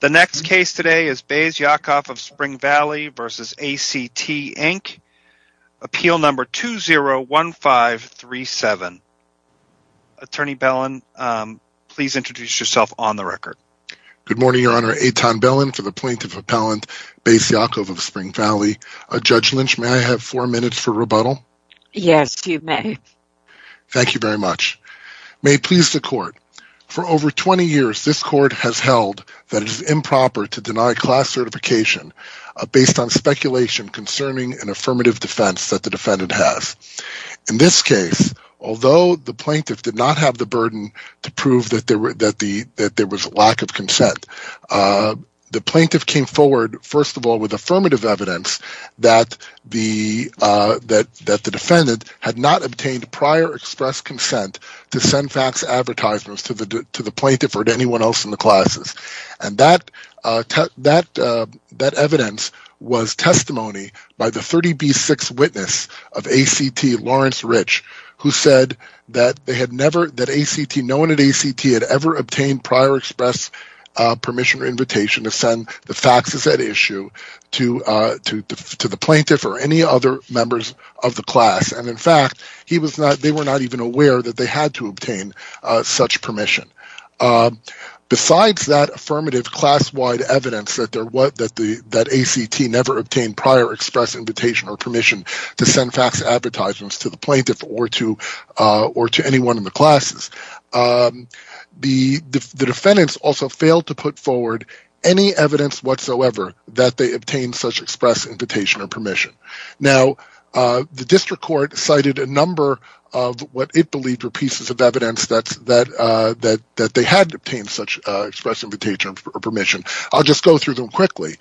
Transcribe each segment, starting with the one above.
The next case today is Bais Yaakov of Spring Valley v. ACT, Inc., Appeal No. 201537. Attorney Bellin, please introduce yourself on the record. Good morning, Your Honor. Eitan Bellin for the Plaintiff Appellant, Bais Yaakov of Spring Valley. Judge Lynch, may I have four minutes for rebuttal? Yes, you may. Thank you very much. May it please the Court. For over 20 years, this Court has held that it is improper to deny class certification based on speculation concerning an affirmative defense that the defendant has. In this case, although the Plaintiff did not have the burden to prove that there was lack of consent, the Plaintiff came forward, first of all, with affirmative evidence that the plaintiff had not obtained prior express permission or invitation to send the faxes at issue to the Plaintiff or any other members of the class, and in fact, they were not even able to obtain such permission. Besides that affirmative class-wide evidence that ACT never obtained prior express invitation or permission to send fax advertisements to the Plaintiff or to anyone in the classes, the defendants also failed to put forward any evidence whatsoever that they obtained such express invitation or permission. Now, the District Court cited a number of what it believed were pieces of evidence that they had obtained such express invitation or permission. I'll just go through them quickly.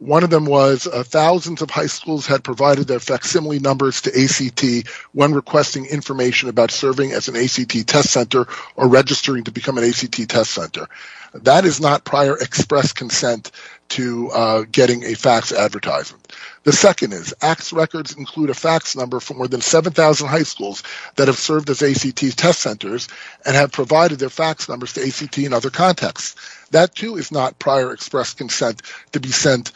One of them was thousands of high schools had provided their facsimile numbers to ACT when requesting information about serving as an ACT test center or registering to become an ACT test center. That is not prior express consent to getting a fax advertisement. The second is ACT's records include a fax number from more than 7,000 high schools that have served as ACT test centers and have provided their fax numbers to ACT in other contexts. That too is not prior express consent to be sent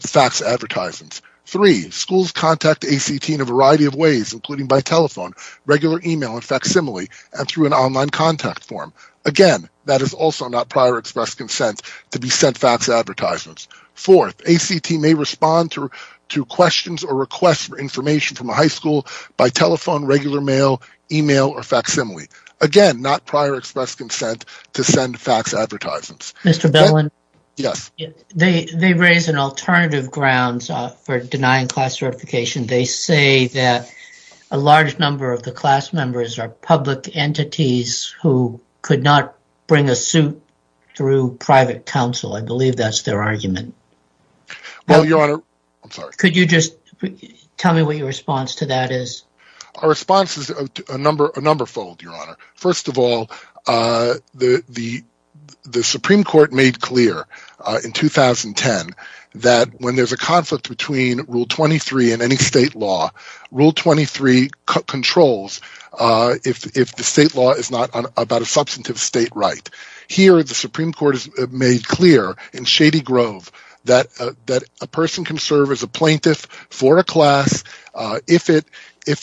fax advertisements. Three, schools contact ACT in a variety of ways, including by telephone, regular email and facsimile, and through an online contact form. Again, that is also not prior express consent to be sent fax advertisements. Fourth, ACT may respond to questions or requests for information from a high school by telephone, regular mail, email or facsimile. Again, not prior express consent to send fax advertisements. Mr. Billin? Yes. They raise an alternative grounds for denying class certification. They say that a large number of the class members are public entities who could not bring a suit through private counsel. I believe that is their argument. Could you just tell me what your response to that is? Our response is a number fold, Your Honor. First of all, the Supreme Court made clear in 2010 that when there is a conflict between Rule 23 and any state law, Rule 23 controls if the state law is not about a substantive state right. Here, the Supreme Court has made clear in Shady Grove that a person can serve as a plaintiff for a class if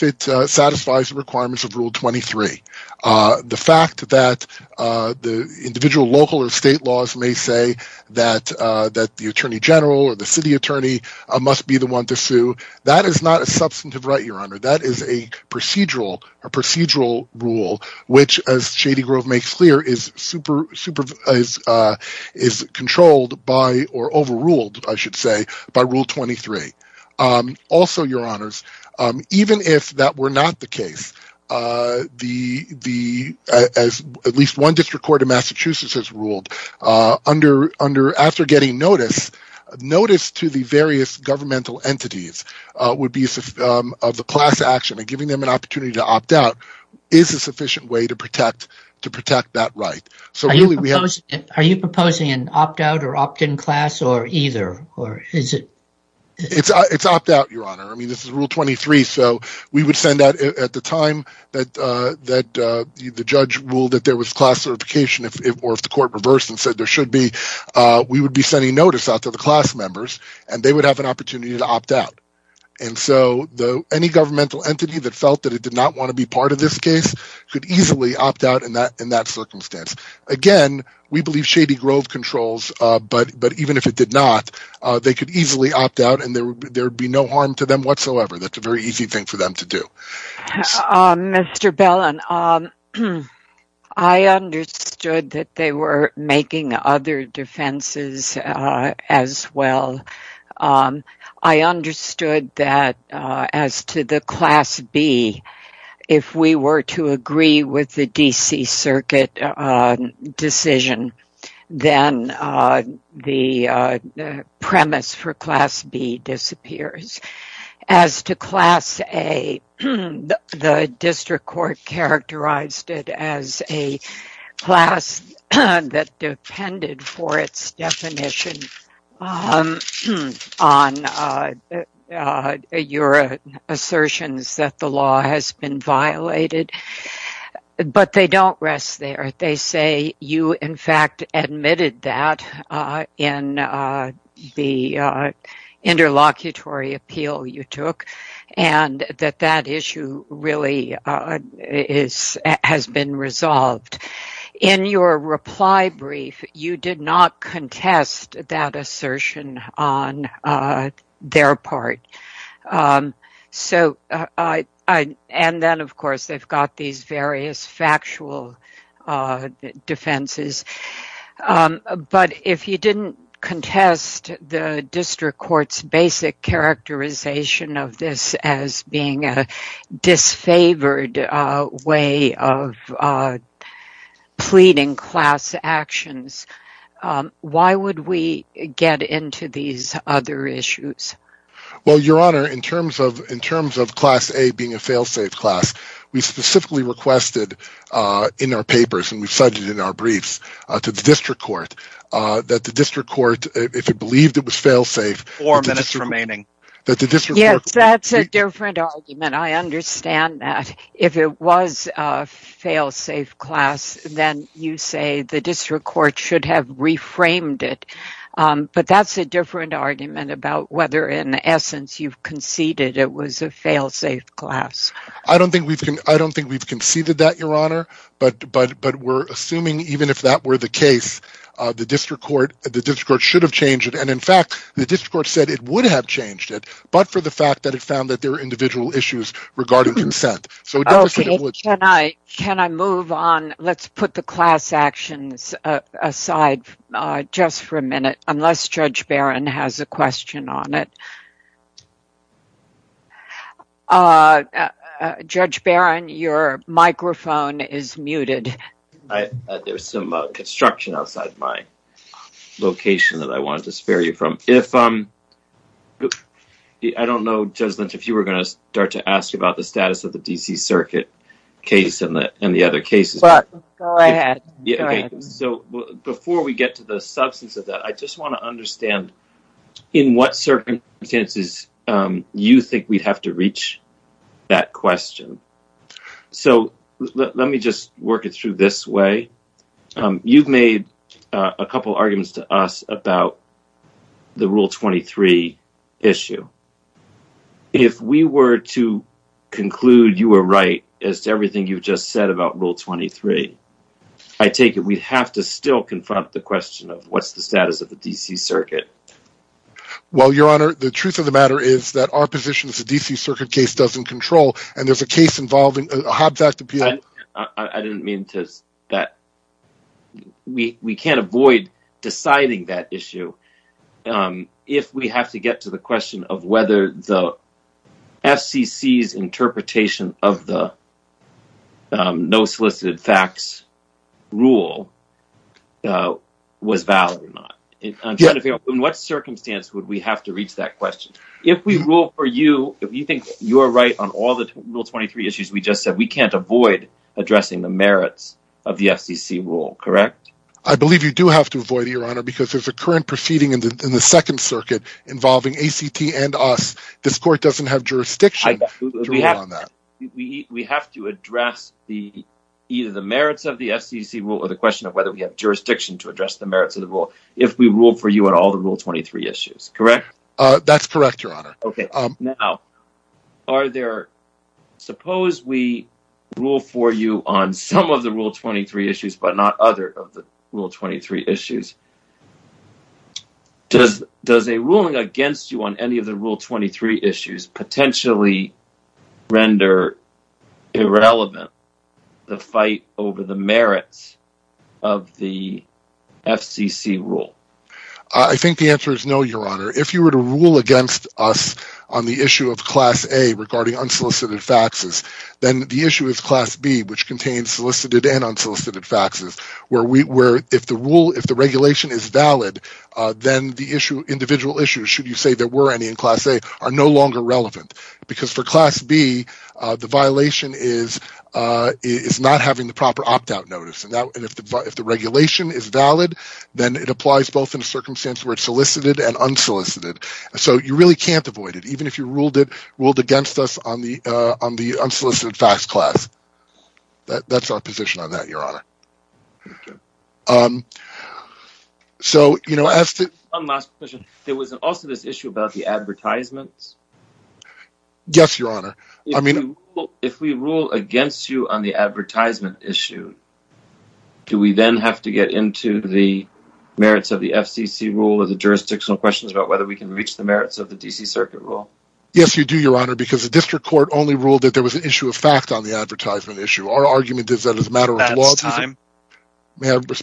it satisfies the requirements of Rule 23. The fact that the individual local or state laws may say that the attorney general or the city attorney must be the one to sue, that is not a substantive right, Your Honor. That is a procedural rule which, as Shady Grove makes clear, is controlled by or overruled, I should say, by Rule 23. Also, Your Honors, even if that were not the case, as at least one district court in Massachusetts has ruled, after getting notice, notice to the various governmental entities would be of the class action and giving them an opportunity to opt out is a sufficient way to protect that right. Are you proposing an opt-out or opt-in class or either? It's opt-out, Your Honor. I mean, this is Rule 23, so we would send out at the time that the judge ruled that there was class certification or if the court reversed and said there should be, we would be sending notice out to the class members and they would have an opportunity to opt out. And so, any governmental entity that felt that it did not want to be part of this case could easily opt out in that circumstance. Again, we believe Shady Grove controls, but even if it did not, they could easily opt out and there would be no harm to them whatsoever. That's a very easy thing for them to do. Mr. Bellin, I understood that they were making other defenses as well. I understood that as to the Class B, if we were to agree with the D.C. Circuit decision, then the premise for Class B disappears. As to Class A, the District Court characterized it as a class that depended for its definition on your assertions that the law has been violated, but they don't rest there. They say you, in fact, admitted that in the interlocutory appeal you took and that that issue really has been resolved. In your reply brief, you did not contest that assertion on their part. And then, of course, they've got these various factual defenses. But if you didn't contest the District Court's basic characterization of this as being a disfavored way of pleading class actions, why would we get into these other issues? Your Honor, in terms of Class A being a fail-safe class, we specifically requested in our papers and we've said it in our briefs to the District Court that the District Court, if it believed it was fail-safe... Four minutes remaining. Yes, that's a different argument. I understand that. If it was a fail-safe class, then you say the District Court should have reframed it. But that's a different argument about whether, in essence, you've conceded it was a fail-safe class. I don't think we've conceded that, Your Honor, but we're assuming even if that were the case, the District Court should have changed it and, in fact, the District Court said it would have changed it, but for the fact that it found that there were individual issues regarding consent. So a deficit would... Okay, can I move on? Let's put the class actions aside just for a minute, unless Judge Barron has a question on it. Judge Barron, your microphone is muted. There's some construction outside my location that I wanted to spare you from. I don't know, Judge Lynch, if you were going to start to ask about the status of the D.C. Circuit case and the other cases. Go ahead. Go ahead. So before we get to the substance of that, I just want to understand in what circumstances you think we'd have to reach that question. So let me just work it through this way. You've made a couple arguments to us about the Rule 23 issue. If we were to conclude you were right as to everything you've just said about Rule 23, I take it we'd have to still confront the question of what's the status of the D.C. Circuit? Well, Your Honor, the truth of the matter is that our position is the D.C. Circuit case doesn't control, and there's a case involving a Hobbs Act appeal... I didn't mean to... ...that we can't avoid deciding that issue if we have to get to the question of whether the FCC's interpretation of the no solicited facts rule was valid or not. I'm trying to figure out in what circumstance would we have to reach that question. If we rule for you, if you think you're right on all the Rule 23 issues we just said, we can't avoid addressing the merits of the FCC rule, correct? I believe you do have to avoid it, Your Honor, because there's a current proceeding in the Second Circuit involving ACT and us. This Court doesn't have jurisdiction to rule on that. We have to address either the merits of the FCC rule or the question of whether we have jurisdiction to address the merits of the rule if we rule for you on all the Rule 23 issues, correct? That's correct, Your Honor. Okay, now, suppose we rule for you on some of the Rule 23 issues but not other of the Rule 23 issues. Does a ruling against you on any of the Rule 23 issues potentially render irrelevant the fight over the merits of the FCC rule? If you were to rule against us on the issue of Class A regarding unsolicited faxes, then the issue is Class B, which contains solicited and unsolicited faxes, where if the regulation is valid, then the individual issues, should you say there were any in Class A, are no longer relevant, because for Class B, the violation is not having the proper opt-out notice. If the regulation is valid, then it applies both in a circumstance where it's solicited and unsolicited. So you really can't avoid it, even if you ruled against us on the unsolicited fax class. That's our position on that, Your Honor. So you know, as to... One last question. There was also this issue about the advertisements? Yes, Your Honor. If we rule against you on the advertisement issue, do we then have to get into the merits of the FCC rule or the jurisdictional questions about whether we can reach the merits of the D.C. Circuit rule? Yes, you do, Your Honor, because the District Court only ruled that there was an issue of fact on the advertisement issue. Our argument is that it's a matter of law. That's time. May I finish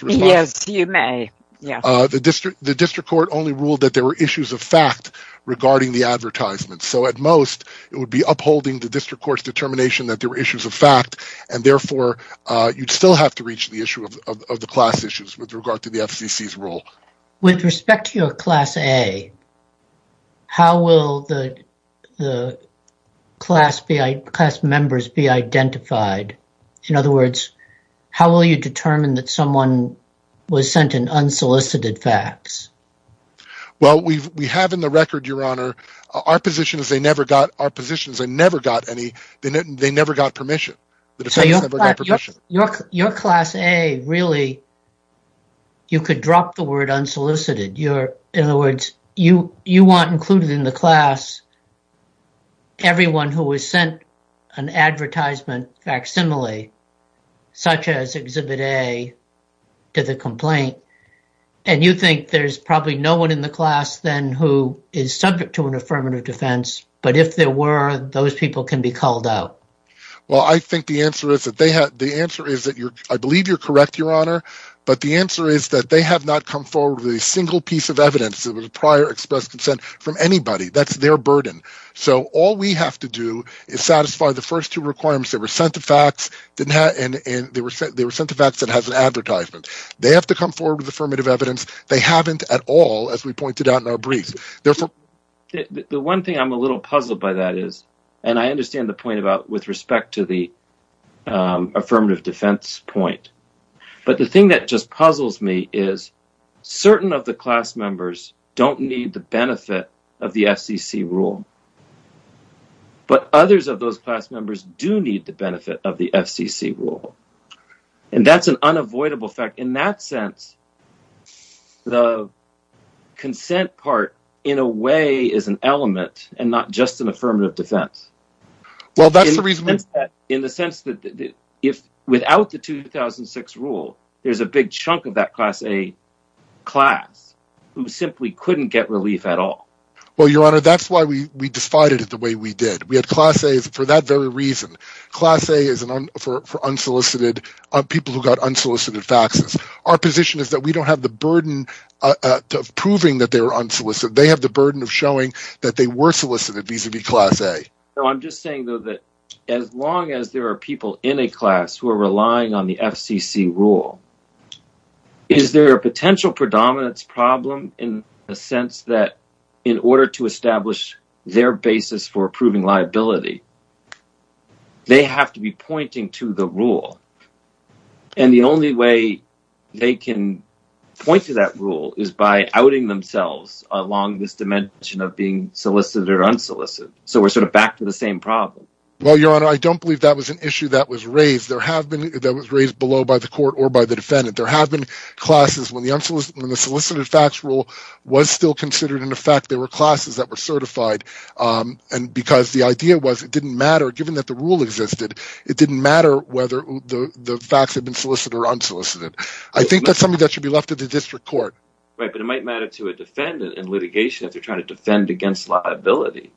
the response? Yes, you may. The District Court only ruled that there were issues of fact regarding the advertisement, so at most, it would be upholding the District Court's determination that there were issues of fact, and therefore, you'd still have to reach the issue of the class issues with regard to the FCC's rule. With respect to your Class A, how will the class members be identified? In other words, how will you determine that someone was sent an unsolicited fax? Well, we have in the record, Your Honor, our position is they never got permission. So your Class A, really, you could drop the word unsolicited. In other words, you want included in the class everyone who was sent an advertisement facsimile, such as Exhibit A, to the complaint, and you think there's probably no one in the class then who is subject to an affirmative defense, but if there were, those people can be called out. Well, I think the answer is, I believe you're correct, Your Honor, but the answer is that they have not come forward with a single piece of evidence of prior expressed consent from anybody. That's their burden. So, all we have to do is satisfy the first two requirements, they were sent a fax that has an advertisement. They have to come forward with affirmative evidence. They haven't at all, as we pointed out in our briefs. The one thing I'm a little puzzled by that is, and I understand the point about with respect to the affirmative defense point, but the thing that just puzzles me is certain of the class members don't need the benefit of the FCC rule, but others of those class members do need the benefit of the FCC rule, and that's an unavoidable fact. In that sense, the consent part, in a way, is an element and not just an affirmative defense. Well, that's the reason... In the sense that without the 2006 rule, there's a big chunk of that Class A class who simply couldn't get relief at all. Well, Your Honor, that's why we defied it the way we did. We had Class A's for that very reason. Class A is for people who got unsolicited faxes. Our position is that we don't have the burden of proving that they were unsolicited. They have the burden of showing that they were solicited vis-a-vis Class A. I'm just saying, though, that as long as there are people in a class who are relying on the FCC rule, is there a potential predominance problem in the sense that in order to establish their basis for proving liability, they have to be pointing to the rule. And the only way they can point to that rule is by outing themselves along this dimension of being solicited or unsolicited. So we're sort of back to the same problem. Well, Your Honor, I don't believe that was an issue that was raised. There have been... That was raised below by the court or by the defendant. There have been classes when the solicited fax rule was still considered in effect, there were classes that were certified, and because the idea was it didn't matter, given that the rule existed, it didn't matter whether the fax had been solicited or unsolicited. I think that's something that should be left to the district court. Right, but it might matter to a defendant in litigation if they're trying to defend against liability,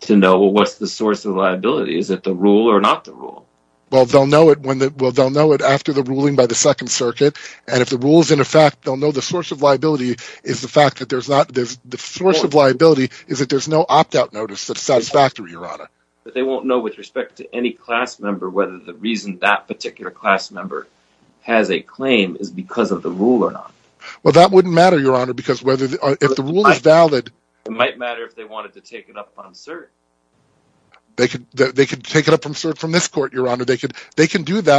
to know what's the source of liability. Is it the rule or not the rule? Well, they'll know it after the ruling by the Second Circuit, and if the rule's in effect, they'll know the source of liability is the fact that there's not... The source of liability is that there's no opt-out notice that's satisfactory, Your Honor. But they won't know with respect to any class member whether the reason that particular class member has a claim is because of the rule or not. Well, that wouldn't matter, Your Honor, because if the rule is valid... It might matter if they wanted to take it up on cert. They can do that,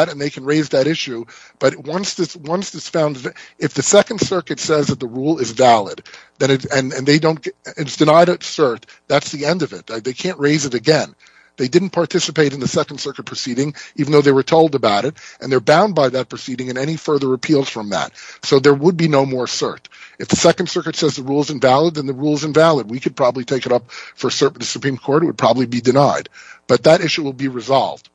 and they can raise that issue, but once it's found... If the Second Circuit says that the rule is valid, and it's denied at cert, that's the end of it. They can't raise it again. They didn't participate in the Second Circuit proceeding, even though they were told about it, and they're bound by that proceeding and any further appeals from that. So there would be no more cert. If the Second Circuit says the rule's invalid, then the rule's invalid. We could probably take it up for cert in the Supreme Court, and it would probably be denied. But that issue will be resolved.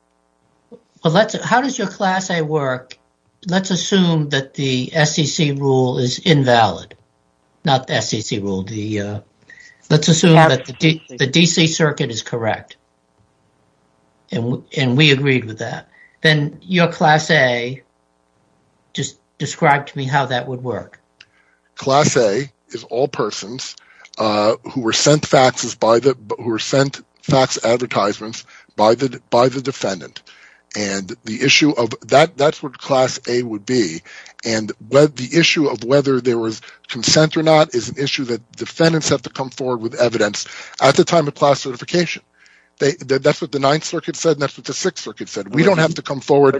How does your Class A work? Let's assume that the SEC rule is invalid, not the SEC rule. Let's assume that the D.C. Circuit is correct, and we agreed with that. Then your Class A, just describe to me how that would work. Class A is all persons who were sent fax advertisements by the defendant, and that's what Class A would be, and the issue of whether there was consent or not is an issue that defendants have to come forward with evidence at the time of class certification. That's what the Ninth Circuit said, and that's what the Sixth Circuit said. We don't have to come forward... to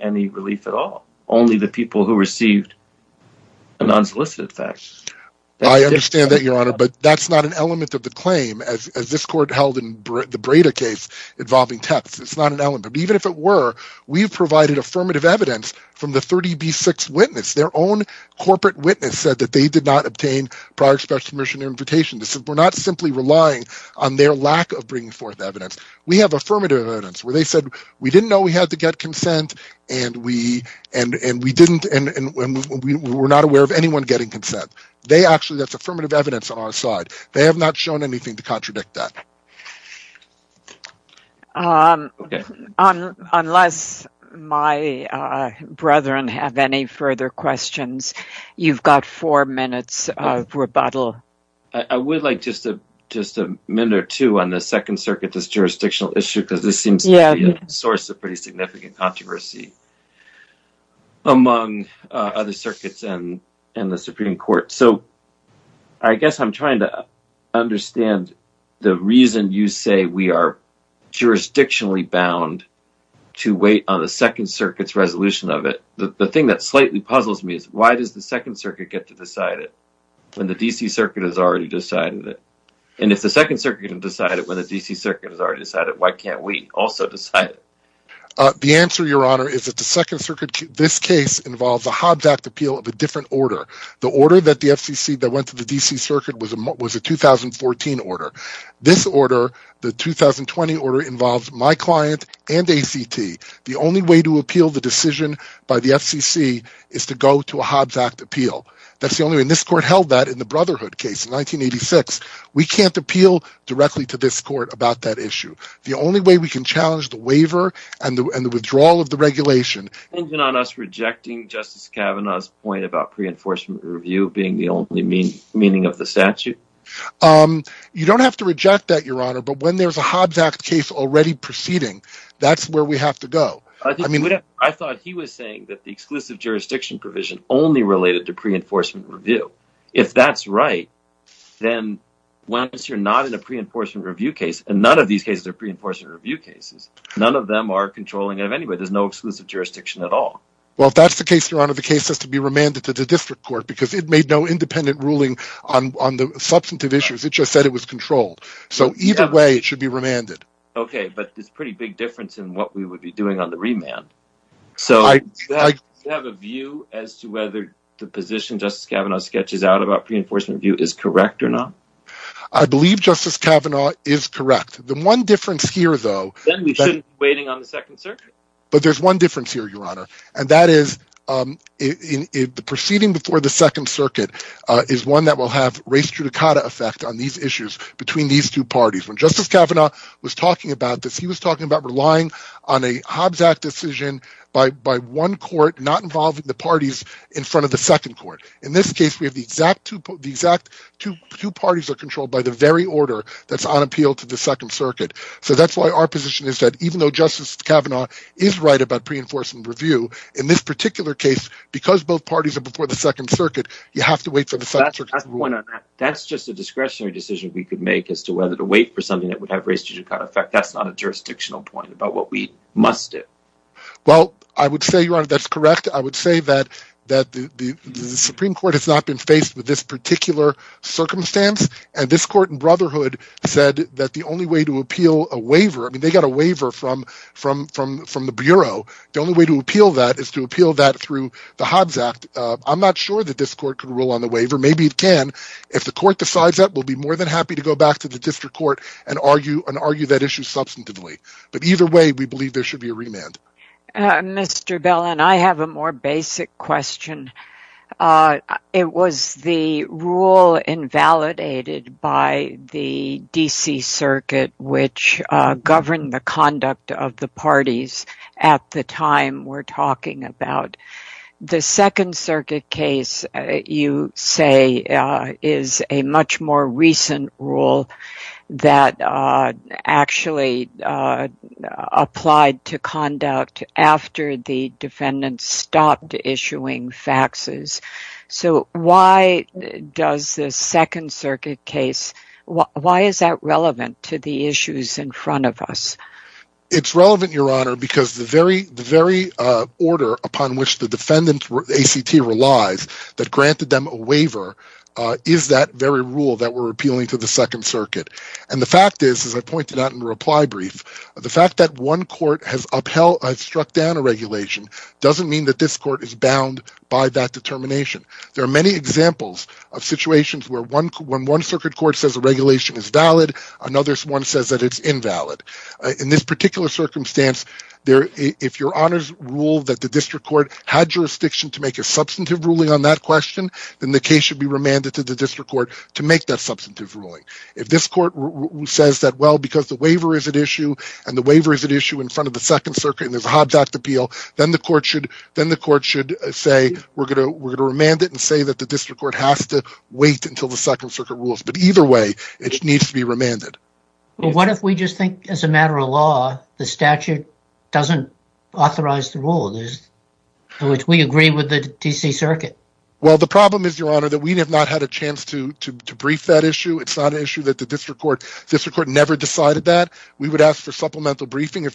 any relief at all. Only the people who received the non-solicited fax. I understand that, Your Honor, but that's not an element of the claim, as this Court held in the Breda case involving texts. It's not an element. But even if it were, we've provided affirmative evidence from the 30B6 witness. Their own corporate witness said that they did not obtain prior express permission or invitation. We're not simply relying on their lack of bringing forth evidence. We have affirmative evidence where they said, we didn't know we had to get consent, and we were not aware of anyone getting consent. They actually... that's affirmative evidence on our side. They have not shown anything to contradict that. Unless my brethren have any further questions, you've got four minutes of rebuttal. I would like just a minute or two on the Second Circuit, this jurisdictional issue, because this seems to be a source of pretty significant controversy among other circuits and the Supreme Court. So, I guess I'm trying to understand the reason you say we are jurisdictionally bound to wait on the Second Circuit's resolution of it. The thing that slightly puzzles me is, why does the Second Circuit get to decide it when the D.C. Circuit has already decided it? And if the Second Circuit can decide it when the D.C. Circuit has already decided it, why can't we also decide it? The answer, Your Honor, is that the Second Circuit, this case, involves a Hobbs Act appeal of a different order. The order that the FCC, that went to the D.C. Circuit, was a 2014 order. This order, the 2020 order, involves my client and ACT. The only way to appeal the decision by the FCC is to go to a Hobbs Act appeal. This Court held that in the Brotherhood case in 1986. We can't appeal directly to this Court about that issue. The only way we can challenge the waiver and the withdrawal of the regulation... Do you mind us rejecting Justice Kavanaugh's point about pre-enforcement review being the only meaning of the statute? You don't have to reject that, Your Honor, but when there's a Hobbs Act case already proceeding, that's where we have to go. If that's right, then once you're not in a pre-enforcement review case, and none of these cases are pre-enforcement review cases, none of them are controlling it anyway. There's no exclusive jurisdiction at all. Well, if that's the case, Your Honor, the case has to be remanded to the District Court because it made no independent ruling on the substantive issues. It just said it was controlled. So either way, it should be remanded. Okay, but there's a pretty big difference in what we would be doing on the remand. So do you have a view as to whether the position Justice Kavanaugh sketches out about pre-enforcement review is correct or not? I believe Justice Kavanaugh is correct. The one difference here, though... Then we shouldn't be waiting on the Second Circuit. But there's one difference here, Your Honor, and that is the proceeding before the Second Circuit is one that will have res judicata effect on these issues between these two parties. When Justice Kavanaugh was talking about this, he was talking about relying on a Hobbs Act decision by one court, not involving the parties in front of the second court. In this case, we have the exact two parties are controlled by the very order that's on appeal to the Second Circuit. So that's why our position is that even though Justice Kavanaugh is right about pre-enforcement review, in this particular case, because both parties are before the Second Circuit, you have to wait for the Second Circuit. That's just a discretionary decision we could make as to whether to wait for something that would have res judicata effect. That's not a jurisdictional point about what we must do. Well, I would say, Your Honor, that's correct. I would say that the Supreme Court has not been faced with this particular circumstance, and this court in Brotherhood said that the only way to appeal a waiver... I mean, they got a waiver from the Bureau. The only way to appeal that is to appeal that through the Hobbs Act. I'm not sure that this court can rule on the waiver. Maybe it can. If the court decides that, we'll be more than happy to go back to the district court and argue that issue substantively. But either way, we believe there should be a remand. Mr. Bellin, I have a more basic question. It was the rule invalidated by the D.C. Circuit which governed the conduct of the parties at the time we're talking about. The Second Circuit case, you say, is a much more recent rule that actually applied to conduct after the defendants stopped issuing faxes. So why does the Second Circuit case... why is that relevant to the issues in front of us? It's relevant, Your Honor, because the very order upon which the defendants' ACT relies that granted them a waiver is that very rule that we're appealing to the Second Circuit. And the fact is, as I pointed out in the reply brief, the fact that one court has struck down a regulation doesn't mean that this court is bound by that determination. There are many examples of situations where one Circuit Court says a regulation is valid, another one says that it's invalid. In this particular circumstance, if Your Honor's rule that the District Court had jurisdiction to make a substantive ruling on that question, then the case should be remanded to the District Court to make that substantive ruling. If this court says that, well, because the waiver is at issue and the waiver is at issue in front of the Second Circuit and there's a Hobbs Act appeal, then the court should say, we're going to remand it and say that the District Court has to wait until the Second Circuit rules. But either way, it needs to be remanded. What if we just think, as a matter of law, the statute doesn't authorize the rule, which we agree with the D.C. Circuit? Well, the problem is, Your Honor, that we have not had a chance to brief that issue. It's not an issue that the District Court never decided that. We would ask for supplemental briefing.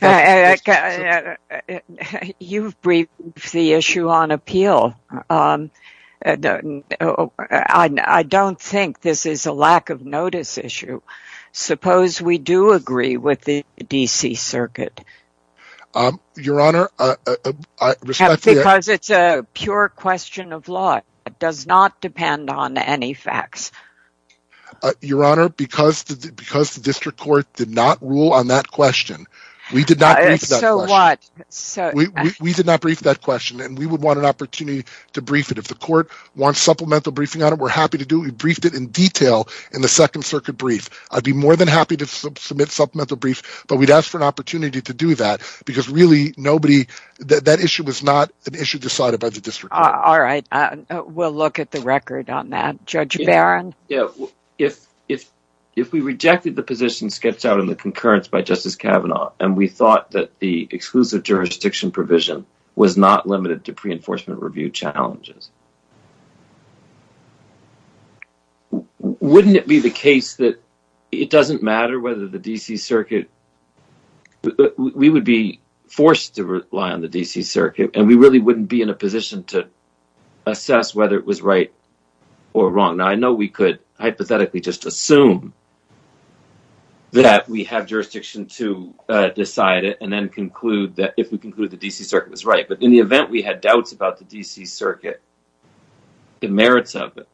You've briefed the issue on appeal. I don't think this is a lack of notice issue. Suppose we do agree with the D.C. Circuit. Your Honor, because it's a pure question of law, it does not depend on any facts. Your Honor, because the District Court did not rule on that question, we did not brief that question. So what? If the court wants supplemental briefing on it, we're happy to do it. We briefed it in detail in the Second Circuit brief. I'd be more than happy to submit supplemental briefs, but we'd ask for an opportunity to do that, because really, that issue was not an issue decided by the District Court. All right. We'll look at the record on that. Judge Barron? Yeah. If we rejected the position sketched out in the concurrence by Justice Kavanaugh, and we thought that the exclusive jurisdiction provision was not limited to pre-enforcement review challenges, wouldn't it be the case that it doesn't matter whether the D.C. Circuit – we would be forced to rely on the D.C. Circuit, and we really wouldn't be in a position to assess whether it was right or wrong. Now, I know we could hypothetically just assume that we have jurisdiction to decide it and then conclude that – if we conclude the D.C. Circuit was right. But in the event we had doubts about the D.C. Circuit, the merits of it,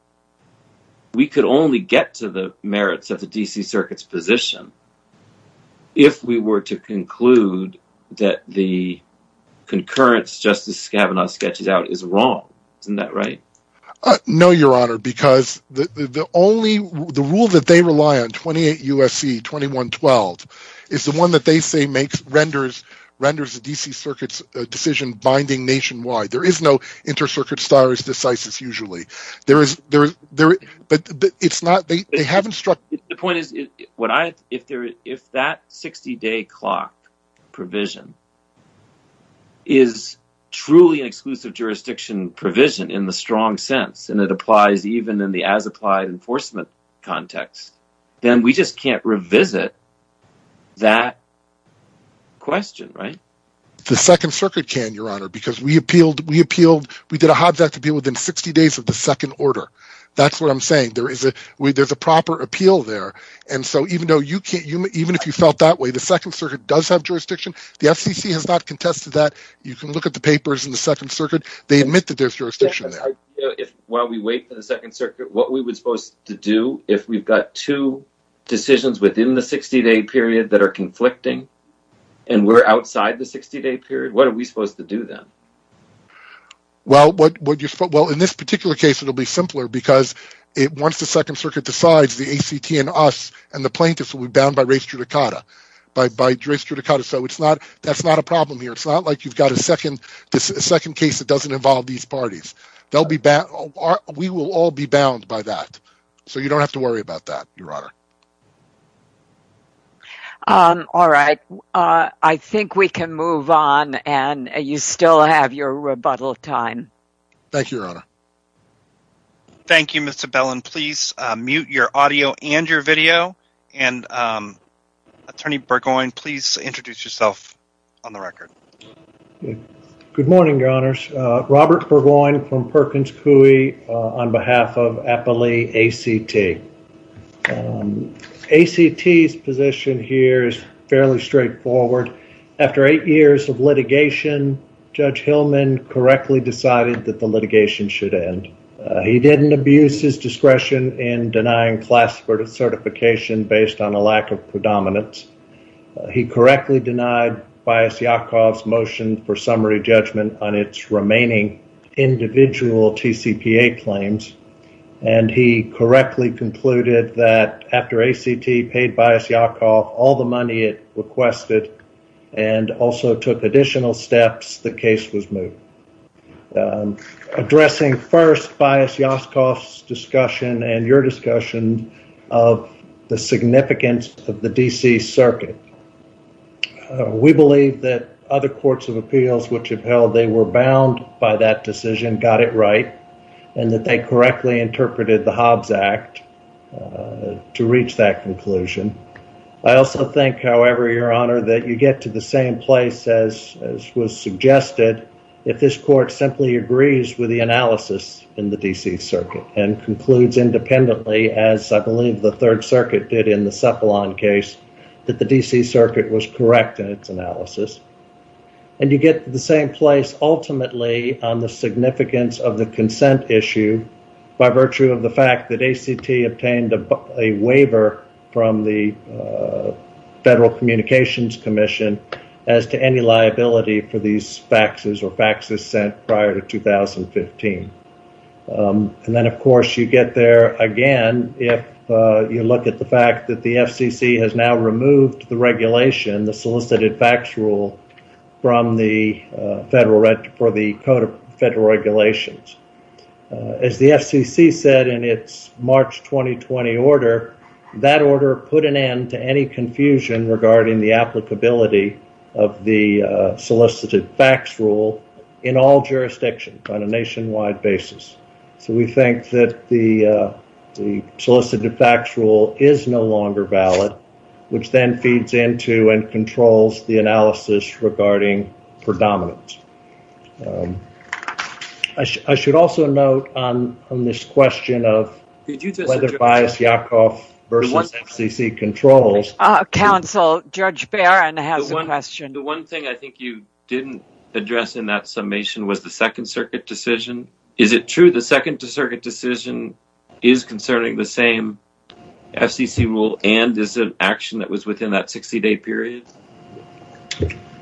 we could only get to the merits of the D.C. Circuit's position if we were to conclude that the concurrence Justice Kavanaugh sketched out is wrong. Isn't that right? No, Your Honor, because the only – the rule that they rely on, 28 U.S.C. 2112, is the one that they say renders the D.C. Circuit's decision binding nationwide. There is no inter-circuit stare decisis usually. There is – but it's not – they haven't struck – The point is, if that 60-day clock provision is truly an exclusive jurisdiction provision in the strong sense, and it applies even in the as-applied enforcement context, then we just can't revisit that question, right? The Second Circuit can, Your Honor, because we appealed – we appealed – we did a Hobbs Act appeal within 60 days of the second order. That's what I'm saying. There is a – there's a proper appeal there. And so even though you can't – even if you felt that way, the Second Circuit does have jurisdiction. The FCC has not contested that. You can look at the papers in the Second Circuit. They admit that there's jurisdiction there. While we wait for the Second Circuit, what are we supposed to do if we've got two decisions within the 60-day period that are conflicting, and we're outside the 60-day period? What are we supposed to do then? Well, in this particular case, it'll be simpler because once the Second Circuit decides, the ACT and us and the plaintiffs will be bound by res judicata, by res judicata. So it's not – that's not a problem here. It's not like you've got a second case that doesn't involve these parties. They'll be bound – we will all be bound by that. So you don't have to worry about that, Your Honor. All right. I think we can move on, and you still have your rebuttal time. Thank you, Your Honor. Thank you, Mr. Bellin. Please mute your audio and your video, and Attorney Burgoyne, please introduce yourself on the record. Good morning, Your Honors. Robert Burgoyne from Perkins Coie on behalf of Appalee ACT. ACT's position here is fairly straightforward. After eight years of litigation, Judge Hillman correctly decided that the litigation should end. He didn't abuse his discretion in denying class certification based on a lack of predominance. He correctly denied Bias Yakov's motion for summary judgment on its remaining individual TCPA claims, and he correctly concluded that after ACT paid Bias Yakov all the money it requested and also took additional steps, the case was moved. Addressing first Bias Yakov's discussion and your discussion of the significance of the D.C. Circuit, we believe that other courts of appeals which have held they were bound by that decision got it right and that they correctly interpreted the Hobbs Act to reach that conclusion. I also think, however, Your Honor, that you get to the same place as was suggested if this court simply agrees with the analysis in the D.C. Circuit and concludes independently as I believe the Third Circuit did in the Cephalon case that the D.C. Circuit was correct in its analysis, and you get to the same place ultimately on the significance of the consent issue by virtue of the fact that ACT obtained a waiver from the Federal Communications Commission as to any liability for these faxes or faxes sent prior to 2015, and then, of course, you get there again if you look at the fact that the FCC has now removed the regulation, the Solicited Fax Rule, from the Federal for the Code of Federal Regulations. As the FCC said in its March 2020 order, that order put an end to any confusion regarding the applicability of the Solicited Fax Rule in all jurisdictions on a nationwide basis, so we think that the Solicited Fax Rule is no longer valid, which then feeds into and controls the analysis regarding predominance. I should also note on this question of whether Baez-Yakov versus FCC controls. Counsel, Judge Barron has a question. The one thing I think you didn't address in that summation was the Second Circuit decision. Is it true the Second Circuit decision is concerning the same FCC rule and is an action that was within that 60-day period?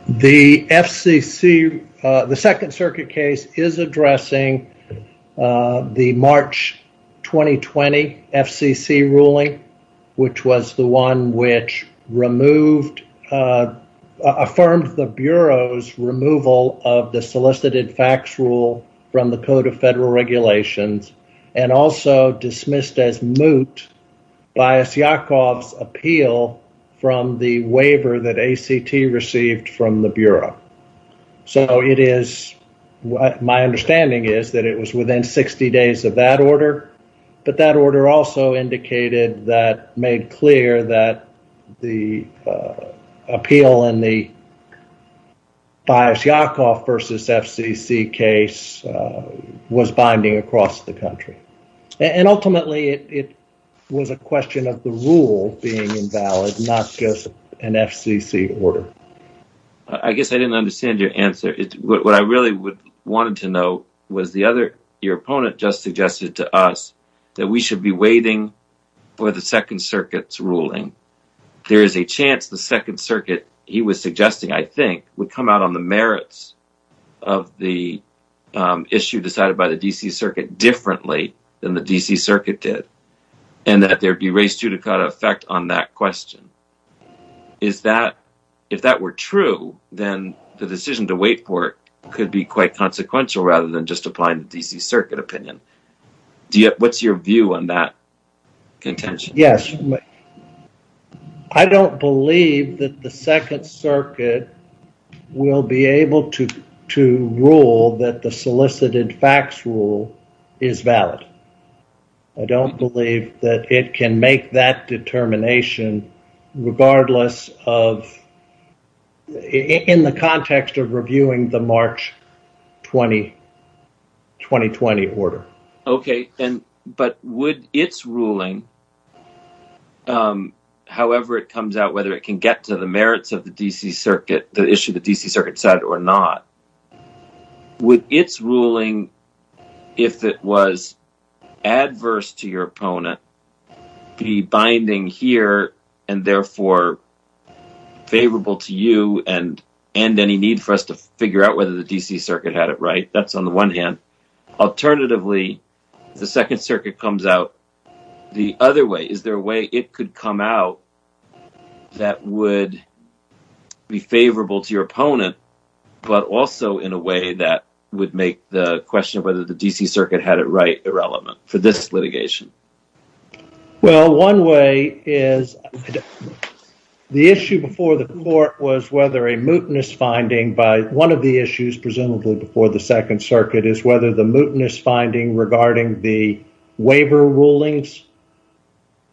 The FCC, the Second Circuit case is addressing the March 2020 FCC ruling, which was the one which removed, affirmed the Bureau's removal of the Solicited Fax Rule from the Code of Federal Regulations and also dismissed as moot Baez-Yakov's appeal from the waiver that ACT received from the Bureau. So it is, my understanding is that it was within 60 days of that order, but that order also indicated that, made clear that the appeal in the Baez-Yakov versus FCC case was binding across the country. And ultimately, it was a question of the rule being invalid, not just an FCC order. I guess I didn't understand your answer. What I really wanted to know was the other, your opponent just suggested to us that we should be waiting for the Second Circuit's ruling. There is a chance the Second Circuit, he was suggesting, I think, would come out on the merits of the issue decided by the D.C. Circuit differently than the D.C. Circuit did, and that there'd be res judicata effect on that question. Is that, if that were true, then the decision to wait for it could be quite consequential rather than just applying the D.C. Circuit opinion. What's your view on that contention? Yes. I don't believe that the Second Circuit will be able to rule that the solicited facts rule is valid. I don't believe that it can make that determination regardless of, in the context of reviewing the March 2020 order. Okay. But would its ruling, however it comes out, whether it can get to the merits of the issue the D.C. Circuit decided or not, would its ruling, if it was adverse to your opponent, be binding here and therefore favorable to you and any need for us to figure out whether the D.C. Circuit had it right? That's on the one hand. Alternatively, if the Second Circuit comes out the other way, is there a way it could come out that would be favorable to your opponent, but also in a way that would make the question of whether the D.C. Circuit had it right irrelevant for this litigation? Well, one way is the issue before the court was whether a mootness finding by one of the issues presumably before the Second Circuit is whether the mootness finding regarding the waiver rulings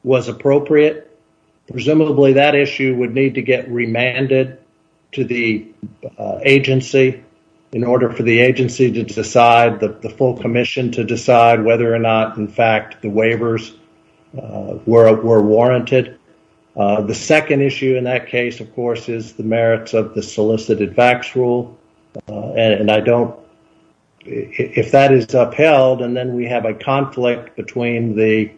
was appropriate. Presumably that issue would need to get remanded to the agency in order for the agency to decide, the full commission to decide, whether or not, in fact, the waivers were warranted. The second issue in that case, of course, is the merits of the solicited facts rule. And I don't, if that is upheld and then we have a conflict between the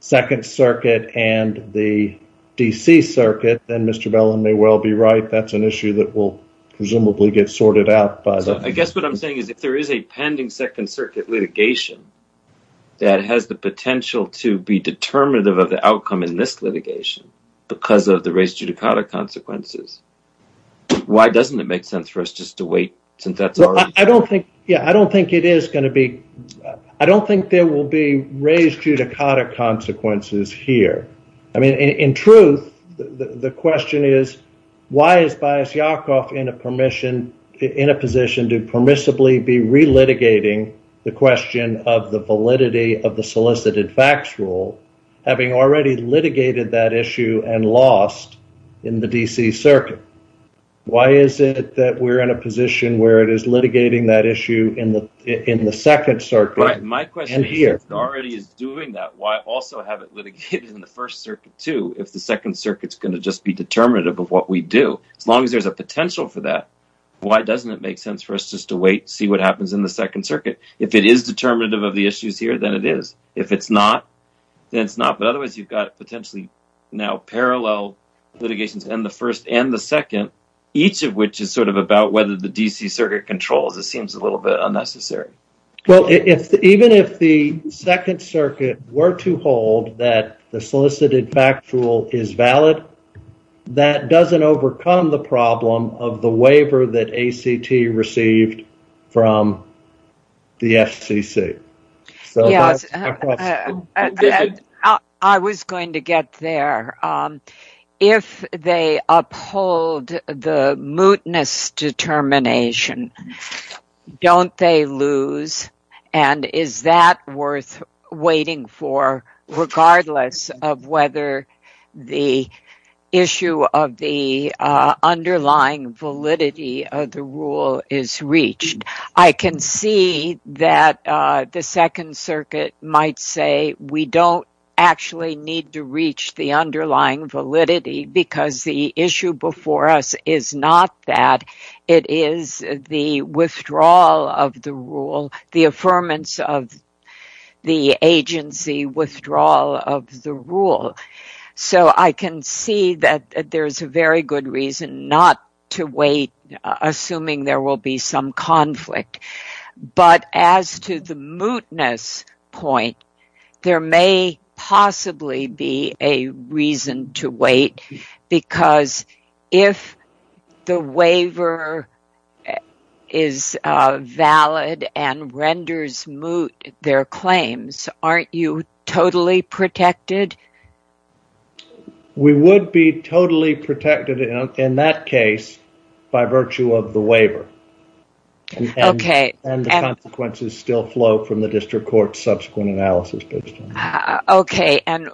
Second Circuit and the D.C. Circuit, then Mr. Bellin may well be right. That's an issue that will presumably get sorted out. I guess what I'm saying is if there is a pending Second Circuit litigation that has the potential to be determinative of the outcome in this litigation because of the res judicata consequences, why doesn't it make sense for us just to wait since that's already done? Yeah, I don't think it is going to be, I don't think there will be res judicata consequences here. I mean, in truth, the question is, why is Bayez Yakov in a permission, in a position to permissibly be relitigating the question of the validity of the solicited facts rule, having already litigated that issue and lost in the D.C. Circuit? Why is it that we're in a position where it is litigating that issue in the in the Second Circuit? My question is, if it already is doing that, why also have it litigated in the First Circuit too if the Second Circuit's going to just be determinative of what we do? As long as there's a potential for that, why doesn't it make sense for us just to wait, see what happens in the Second Circuit? If it is determinative of the issues here, then it is. If it's not, then it's not, but otherwise you've got potentially now parallel litigations in the First and the Second, each of which is sort of about whether the D.C. Circuit controls. It seems a little bit unnecessary. Well, even if the Second Circuit were to hold that the solicited facts rule is valid, that doesn't overcome the problem of the waiver that ACT received from the FCC. I was going to get there. If they uphold the mootness determination, don't they lose? And is that worth waiting for regardless of whether the issue of the underlying validity of the rule is reached? I can see that the Second Circuit might say we don't actually need to reach the underlying validity because the issue before us is not that. It is the withdrawal of the rule, the affirmance of the agency withdrawal of the rule. So I can see that there is a very good reason not to wait, assuming there will be some conflict. But as to the mootness point, there may possibly be a reason to wait because if the waiver is valid and renders moot their claims, aren't you totally protected? We would be totally protected in that case by virtue of the waiver. And the consequences still flow from the District Court's subsequent analysis. OK. And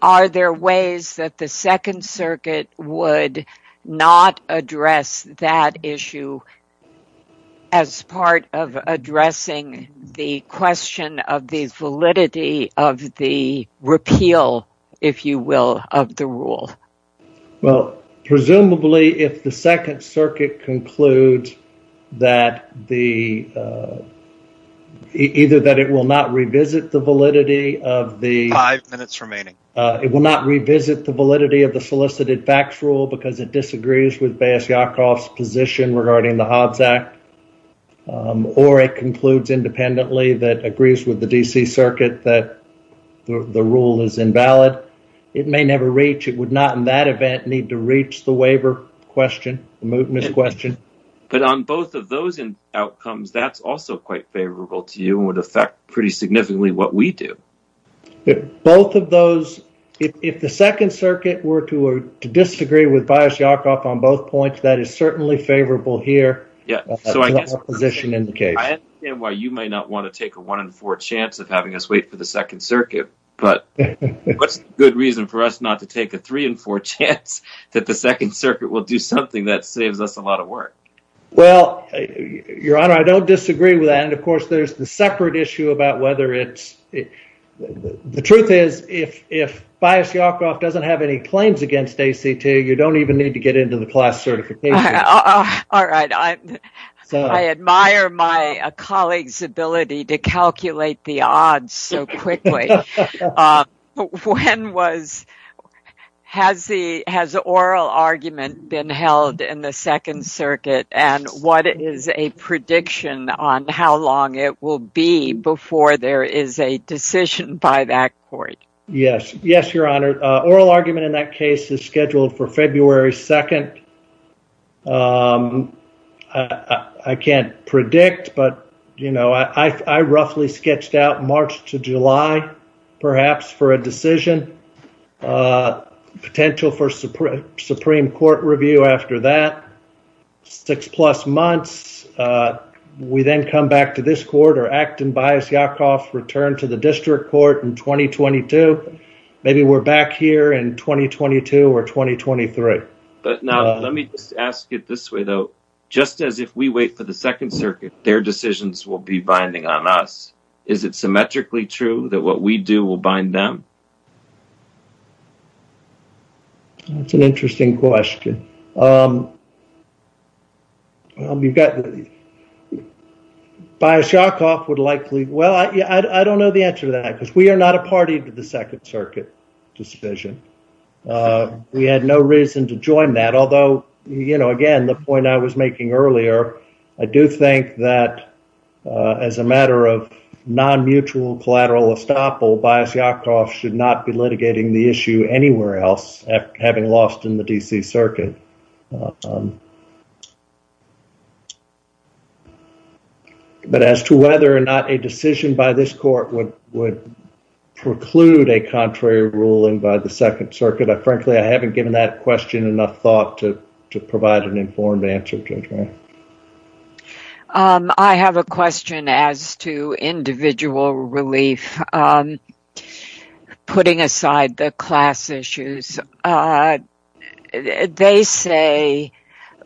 are there ways that the Second Circuit would not address that issue as part of addressing the question of the validity of the repeal, if you will, of the rule? Well, presumably if the Second Circuit concludes that the either that it will not revisit the validity of the five minutes remaining, it will not revisit the validity of the solicited facts rule because it disagrees with Bass Yakov's position regarding the Hobbs Act or it concludes independently that agrees with the D.C. Circuit that the rule is invalid, it may never reach. It would not in that event need to reach the waiver question, the mootness question. But on both of those outcomes, that's also quite favorable to you and would affect pretty significantly what we do. Both of those, if the Second Circuit were to disagree with Bass Yakov on both points, that is certainly favorable here. Yeah, so I guess that's the position in the case. I understand why you might not want to take a one in four chance of having us wait for the Second Circuit, but what's a good reason for us not to take a three and four chance that the Second Circuit will do something that saves us a lot of work? Well, Your Honor, I don't disagree with that. And of course, there's the separate issue about whether it's the truth is if if Bias Yakov doesn't have any claims against ACT, you don't even need to get into the class certification. All right. I admire my colleague's ability to calculate the odds so quickly. When was has the has oral argument been held in the Second Circuit? And what is a prediction on how long it will be before there is a decision by that court? Yes. Yes, Your Honor. Oral argument in that case is scheduled for February 2nd. I can't predict, but, you know, I roughly sketched out March to July, perhaps for a decision potential for Supreme Court review after that six plus months. We then come back to this court or act and Bias Yakov return to the district court in 2022. Maybe we're back here in 2022 or 2023. But now let me ask it this way, though, just as if we wait for the Second Circuit, their decisions will be binding on us. Is it symmetrically true that what we do will bind them? That's an interesting question. You've got Bias Yakov would likely. Well, I don't know the answer to that because we are not a party to the Second Circuit decision. We had no reason to join that, although, you know, again, the point I was making earlier, I do think that as a matter of non-mutual collateral estoppel, Bias Yakov should not be litigating the issue anywhere else, having lost in the D.C. Circuit. But as to whether or not a decision by this court would would preclude a contrary ruling by the Second Circuit, frankly, I haven't given that question enough thought to to provide an informed answer. I have a question as to individual relief, putting aside the class issues. They say,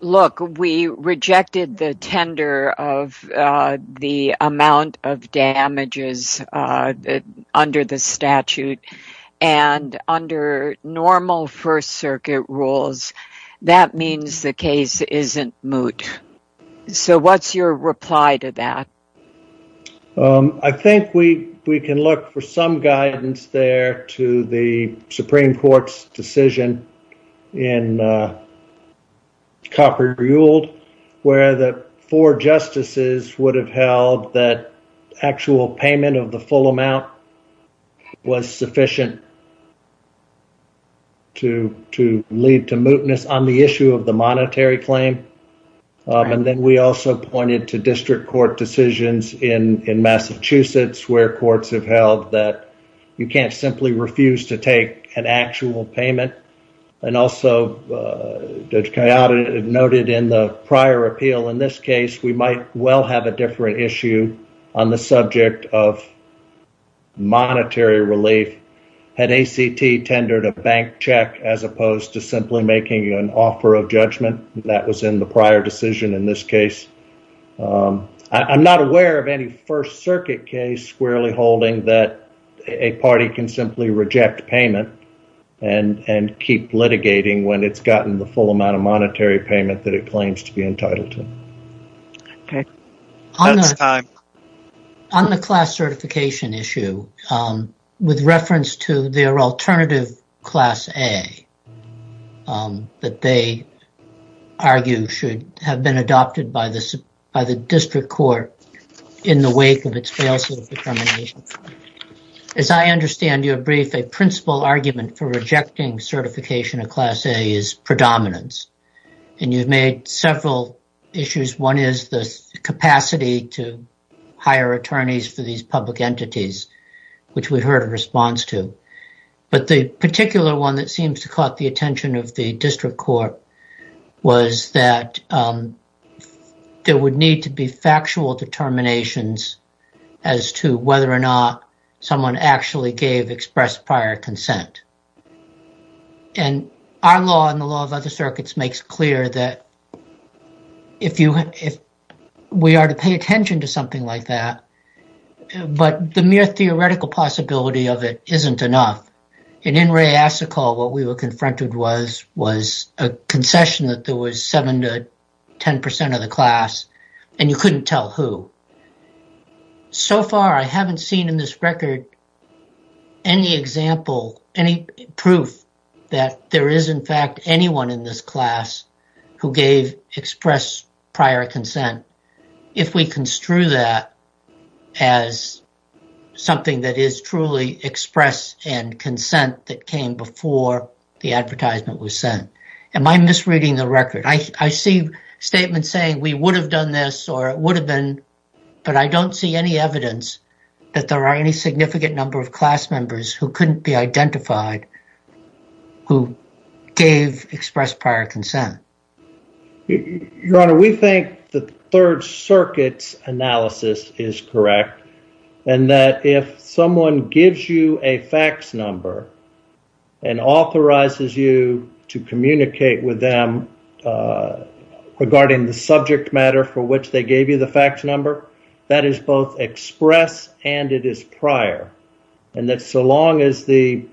look, we rejected the tender of the amount of damages under the statute. And under normal First Circuit rules, that means the case isn't moot. So what's your reply to that? I think we we can look for some guidance there to the Supreme Court's decision in Copper Yule, where the four justices would have held that actual payment of the full amount was sufficient to to lead to mootness on the issue of the monetary claim. And then we also pointed to district court decisions in Massachusetts, where courts have held that you can't simply refuse to take an actual payment. And also noted in the prior appeal in this case, we might well have a different issue on the subject of monetary relief. Had ACT tendered a bank check as opposed to simply making an offer of judgment? That was in the prior decision in this case. I'm not aware of any First Circuit case squarely holding that a party can simply reject payment and and keep litigating when it's gotten the full amount of monetary payment that it claims to be entitled to. OK. On the class certification issue, with reference to their alternative Class A, that they argue should have been adopted by the by the district court in the wake of its failsafe determination. As I understand your brief, a principal argument for rejecting certification of Class A is predominance. And you've made several issues. One is the capacity to hire attorneys for these public entities, which we heard a response to. But the particular one that seems to caught the attention of the district court was that there would need to be factual determinations as to whether or not someone actually gave expressed prior consent. And our law and the law of other circuits makes clear that if you if we are to pay attention to something like that, but the mere theoretical possibility of it isn't enough. In In re Asikal, what we were confronted was was a concession that there was seven to 10 percent of the class and you couldn't tell who. So far, I haven't seen in this record any example, any proof that there is, in fact, anyone in this class who gave express prior consent. If we construe that as something that is truly express and consent that came before the advertisement was sent, am I misreading the record? I see statements saying we would have done this or it would have been, but I don't see any evidence that there are any significant number of class members who couldn't be identified, who gave express prior consent. Your Honor, we think the Third Circuit's analysis is correct and that if someone gives you a fax number and authorizes you to communicate with them regarding the subject matter for which they gave you the fax number, that is both express and it is prior. And that's so long as the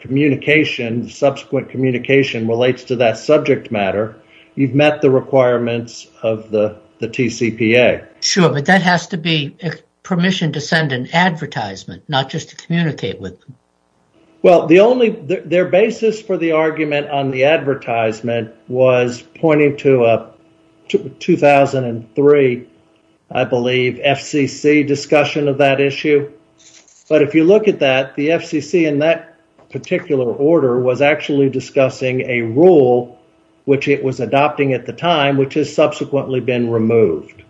communication, subsequent communication relates to that subject matter, you've met the requirements of the the TCPA. Sure, but that has to be permission to send an advertisement, not just to communicate with. Well, the only their basis for the argument on the advertisement was pointing to a 2003, I believe, FCC discussion of that issue. But if you look at that, the FCC in that particular order was actually discussing a rule which it was adopting at the time, which has subsequently been removed.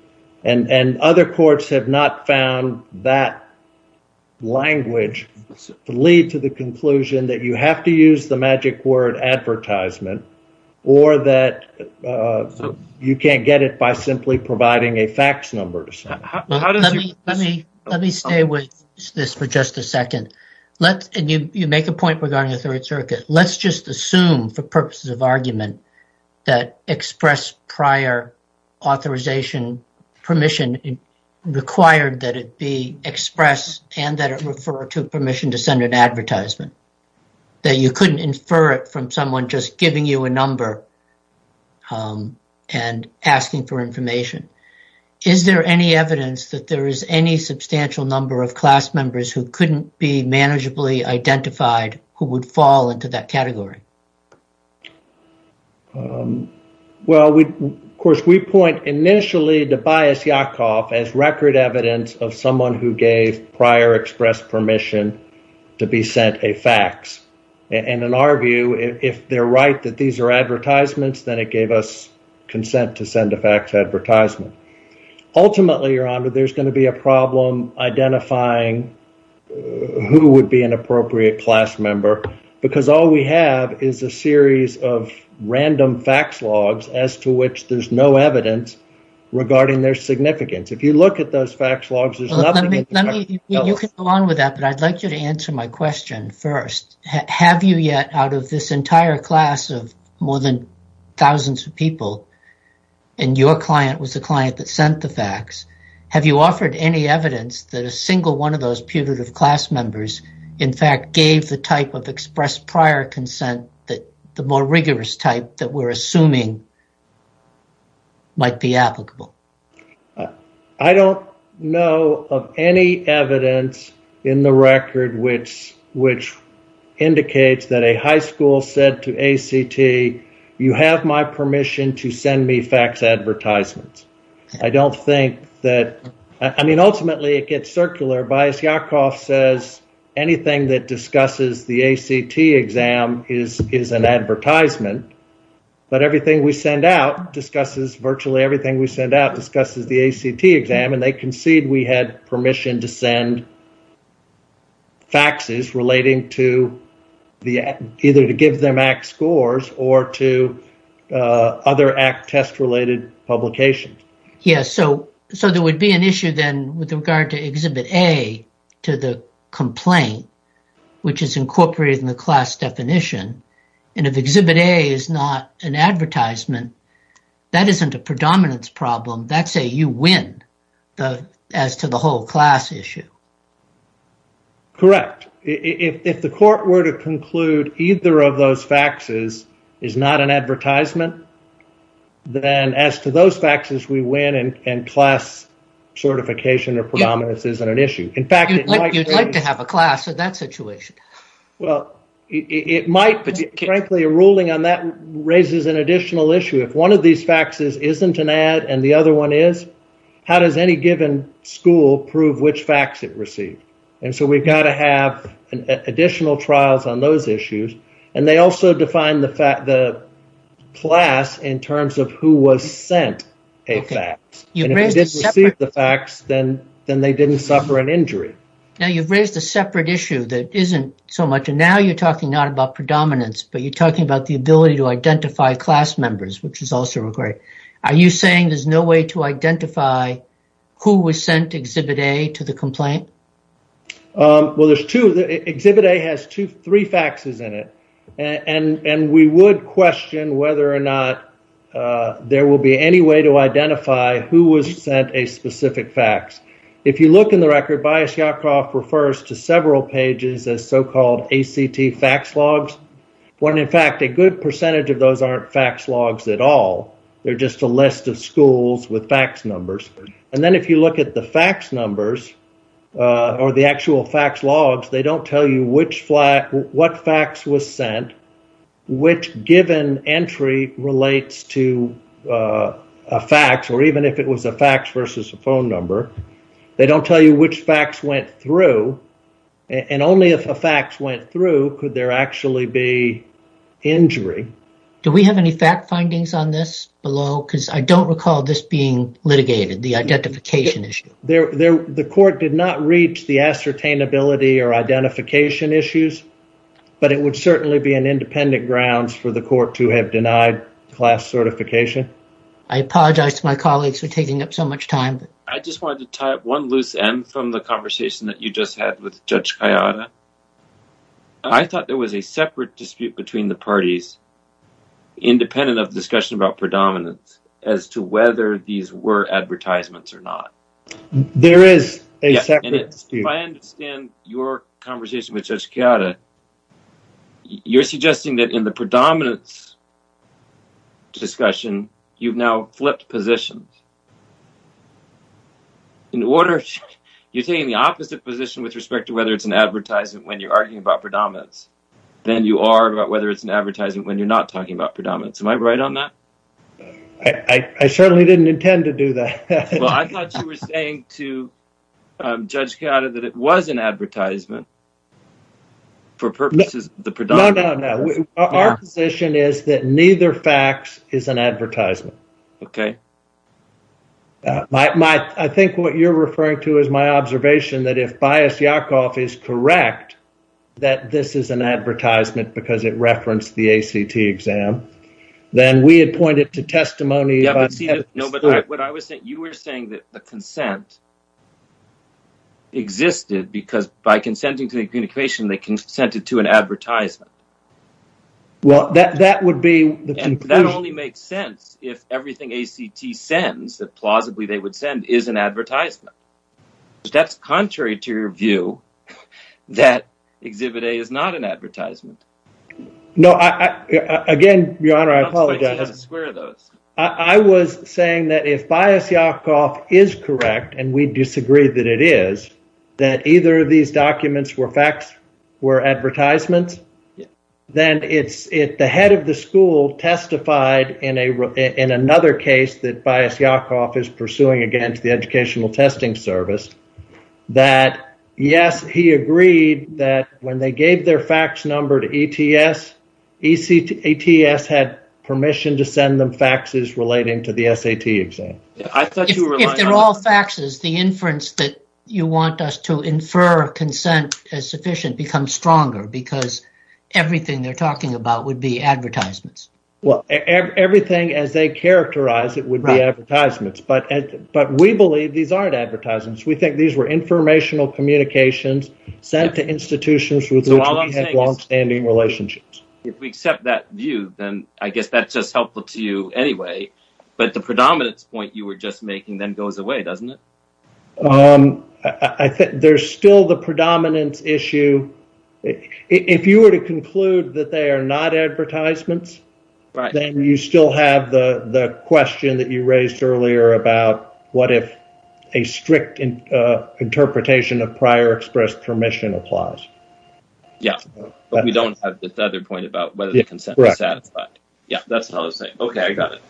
And other courts have not found that language to lead to the conclusion that you have to use the magic word advertisement or that you can't get it by simply providing a fax number. Let me stay with this for just a second. Let's make a point regarding the Third Circuit. Let's just assume for purposes of argument that express prior authorization permission required that it be express and that it refer to permission to send an advertisement. That you couldn't infer it from someone just giving you a number and asking for information. Is there any evidence that there is any substantial number of class members who couldn't be manageably identified who would fall into that category? Well, we of course, we point initially to Bias Yakov as record evidence of someone who gave prior express permission to be sent a fax. And in our view, if they're right that these are advertisements, then it gave us consent to send a fax advertisement. Ultimately, your honor, there's going to be a problem identifying who would be an appropriate class member, because all we have is a series of random fax logs as to which there's no evidence regarding their significance. If you look at those fax logs, there's nothing. You can go on with that, but I'd like you to answer my question first. Have you yet out of this entire class of more than thousands of people and your client was a client that sent the fax, have you offered any evidence that a single one of those putative class members, in fact, gave the type of express prior consent that the more rigorous type that we're assuming might be applicable? I don't know of any evidence in the record which indicates that a high school said to ACT, you have my permission to send me fax advertisements. I don't think that I mean, ultimately, it gets circular bias. Yakov says anything that discusses the ACT exam is is an advertisement. But everything we send out discusses virtually everything we send out discusses the ACT exam, and they concede we had permission to send faxes relating to the either to give them ACT scores or to other ACT test related publications. Yes. So so there would be an issue then with regard to Exhibit A to the complaint, which is incorporated in the class definition. And if Exhibit A is not an advertisement, that isn't a predominance problem. That's a you win as to the whole class issue. Correct. If the court were to conclude either of those faxes is not an advertisement, then as to those faxes, we win and class certification or predominance isn't an issue. In fact, you'd like to have a class in that situation. Well, it might. But frankly, a ruling on that raises an additional issue. If one of these faxes isn't an ad and the other one is, how does any given school prove which fax it received? And so we've got to have additional trials on those issues. And they also define the class in terms of who was sent a fax. You didn't receive the fax, then they didn't suffer an injury. Now, you've raised a separate issue that isn't so much. And now you're talking not about predominance, but you're talking about the ability to identify class members, which is also required. Are you saying there's no way to identify who was sent Exhibit A to the complaint? Well, there's two. Exhibit A has three faxes in it. And we would question whether or not there will be any way to identify who was sent a specific fax. If you look in the record, Bias-Yakoff refers to several pages as so-called ACT fax logs, when in fact, a good percentage of those aren't fax logs at all. They're just a list of schools with fax numbers. And then if you look at the fax numbers or the actual fax logs, they don't tell you which fax, what fax was sent, which given entry relates to a fax, or even if it was a fax versus a phone number. They don't tell you which fax went through. And only if a fax went through, could there actually be injury. Do we have any fact findings on this below? Because I don't recall this being litigated. The identification issue. The court did not reach the ascertainability or identification issues, but it would certainly be an independent grounds for the court to have denied class certification. I apologize to my colleagues for taking up so much time. I just wanted to tie up one loose end from the conversation that you just had with Judge Kayada. I thought there was a separate dispute between the parties, independent of whether it's an advertisement or not. There is a separate dispute. If I understand your conversation with Judge Kayada, you're suggesting that in the predominance discussion, you've now flipped positions. In order, you're taking the opposite position with respect to whether it's an advertisement when you're arguing about predominance, than you are about whether it's an advertisement when you're not talking about predominance. Am I right on that? I certainly didn't intend to do that. Well, I thought you were saying to Judge Kayada that it was an advertisement. For purposes of the predominance. No, no, no. Our position is that neither facts is an advertisement. OK. I think what you're referring to is my observation that if Bias Yakov is correct, that this is an advertisement because it referenced the ACT exam, then we had pointed to testimony. No, but what I was saying, you were saying that the consent existed because by consenting to the communication, they consented to an advertisement. Well, that would be the conclusion. That only makes sense if everything ACT sends, that plausibly they would send, is an advertisement. No, again, Your Honor, I apologize. I was saying that if Bias Yakov is correct, and we disagree that it is, that either of these documents were facts, were advertisements, then it's if the head of the school testified in another case that Bias Yakov is pursuing against the Educational Testing Service, that, yes, he agreed that when they gave their fax number to ETS, ETS had permission to send them faxes relating to the SAT exam. I thought you were. If they're all faxes, the inference that you want us to infer consent as sufficient becomes stronger because everything they're talking about would be advertisements. Well, everything as they characterize it would be advertisements. But we believe these aren't advertisements. We think these were informational communications sent to institutions with longstanding relationships. If we accept that view, then I guess that's just helpful to you anyway. But the predominance point you were just making then goes away, doesn't it? I think there's still the predominance issue. If you were to conclude that they are not advertisements, then you still have the question that you raised earlier about what if a strict interpretation of prior express permission applies? Yes, but we don't have the other point about whether the consent was satisfied. Yeah, that's all I was saying. OK, I got it.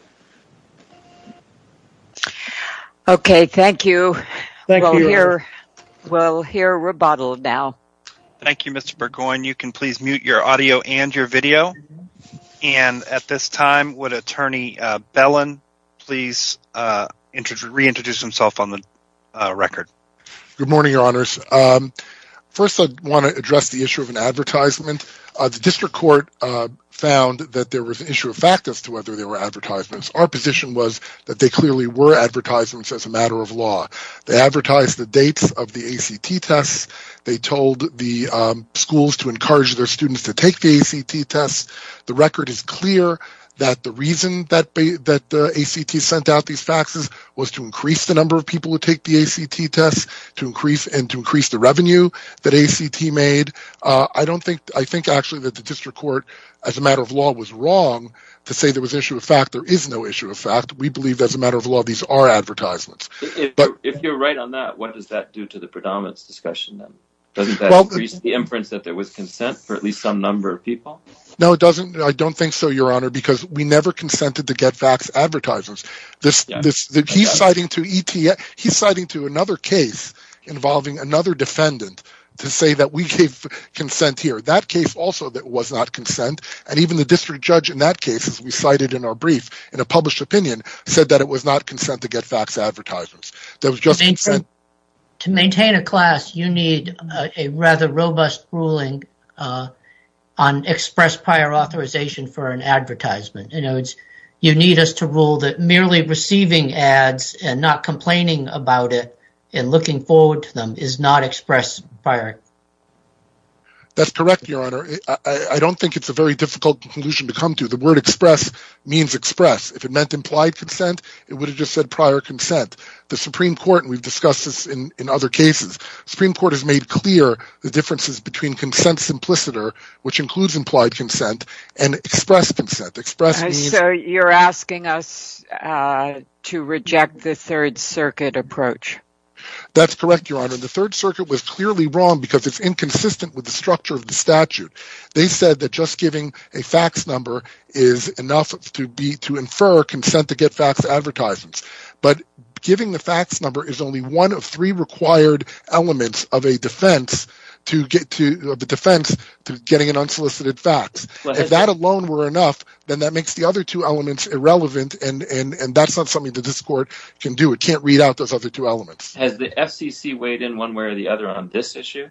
OK, thank you. Thank you. We'll hear rebuttal now. Thank you, Mr. Burgoyne. You can please mute your audio and your video. And at this time, would Attorney Bellen please reintroduce himself on the record? Good morning, your honors. First, I want to address the issue of an advertisement. The district court found that there was an issue of fact as to whether they were advertisements. Our position was that they clearly were advertisements as a matter of law. They advertised the dates of the ACT tests. They told the schools to encourage their students to take the ACT tests. The record is clear that the reason that the ACT sent out these faxes was to increase the number of people who take the ACT tests and to increase the revenue that ACT made. I think actually that the district court, as a matter of law, was wrong to say there was issue of fact. There is no issue of fact. We believe as a matter of law, these are advertisements. If you're right on that, what does that do to the predominance discussion? Doesn't that increase the inference that there was consent for at least some number of people? No, it doesn't. I don't think so, your honor, because we never consented to get faxed advertisements. This is the key citing to ETA. He's citing to another case involving another defendant to say that we gave consent here. That case also that was not consent. And even the district judge in that case, as we cited in our brief, in a published opinion, said that it was not consent to get faxed advertisements. That was just to maintain a class. You need a rather robust ruling on express prior authorization for an advertisement. You need us to rule that merely receiving ads and not complaining about it and looking forward to them is not express prior. That's correct, your honor. I don't think it's a very difficult conclusion to come to. The word express means express. If it meant implied consent, it would have just said prior consent. The Supreme Court, and we've discussed this in other cases, Supreme Court has made clear the differences between consent simpliciter, which includes implied consent, and express consent express. So you're asking us to reject the Third Circuit approach. That's correct, your honor. The Third Circuit was clearly wrong because it's inconsistent with the structure of the statute. They said that just giving a fax number is enough to be to infer consent to get faxed advertisements. But giving the fax number is only one of three required elements of a defense to get to the defense to getting an unsolicited fax. If that alone were enough, then that makes the other two elements irrelevant. And that's not something that this court can do. It can't read out those other two elements. Has the FCC weighed in one way or the other on this issue?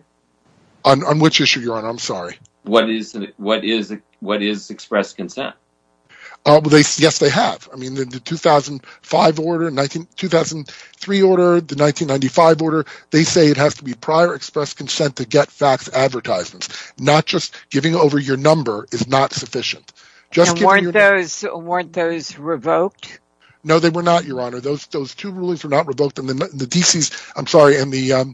On which issue, your honor? I'm sorry. What is what is what is express consent? Yes, they have. I mean, the 2005 order, 2003 order, the 1995 order. They say it has to be prior express consent to get faxed advertisements, not just giving over your number is not sufficient. Just weren't those weren't those revoked? No, they were not, your honor. Those those two rulings were not revoked in the D.C. I'm sorry. And the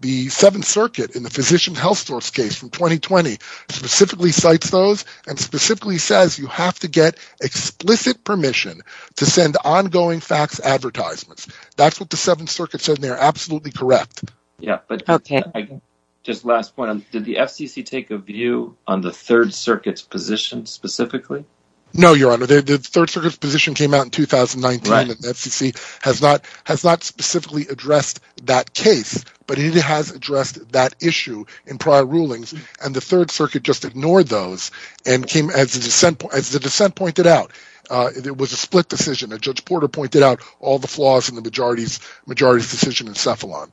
the Seventh Circuit in the physician health source case from 2020 specifically cites those and specifically says you have to get explicit permission to send ongoing fax advertisements. That's what the Seventh Circuit said. They're absolutely correct. Yeah, but just last one, did the FCC take a view on the Third Circuit's position specifically? No, your honor, the Third Circuit's position came out in 2019. FCC has not has not specifically addressed that case, but it has addressed that issue in prior rulings. And the Third Circuit just ignored those and came as a dissent as the dissent pointed out. It was a split decision that Judge Porter pointed out all the flaws in the majority's majority decision in Cephalon.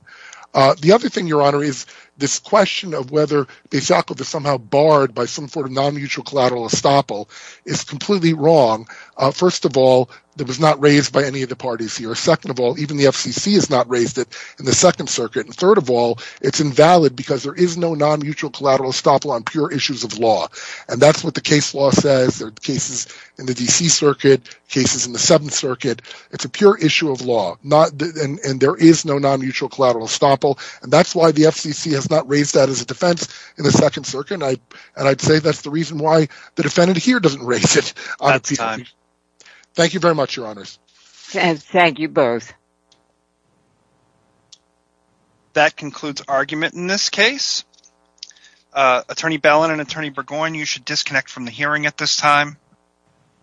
The other thing, your honor, is this question of whether the executive is somehow barred by some sort of non-mutual collateral estoppel is completely wrong. First of all, that was not raised by any of the parties here. Second of all, even the FCC has not raised it in the Second Circuit. And third of all, it's invalid because there is no non-mutual collateral estoppel on pure issues of law. And that's what the case law says. There are cases in the D.C. Circuit, cases in the Seventh Circuit. It's a pure issue of law and there is no non-mutual collateral estoppel. And that's why the FCC has not raised that as a defense in the Second Circuit. And I'd say that's the reason why the defendant here doesn't raise it. That's time. Thank you very much, your honors. And thank you both. That concludes argument in this case. Attorney Bellin and Attorney Burgoyne, you should disconnect from the hearing at this time.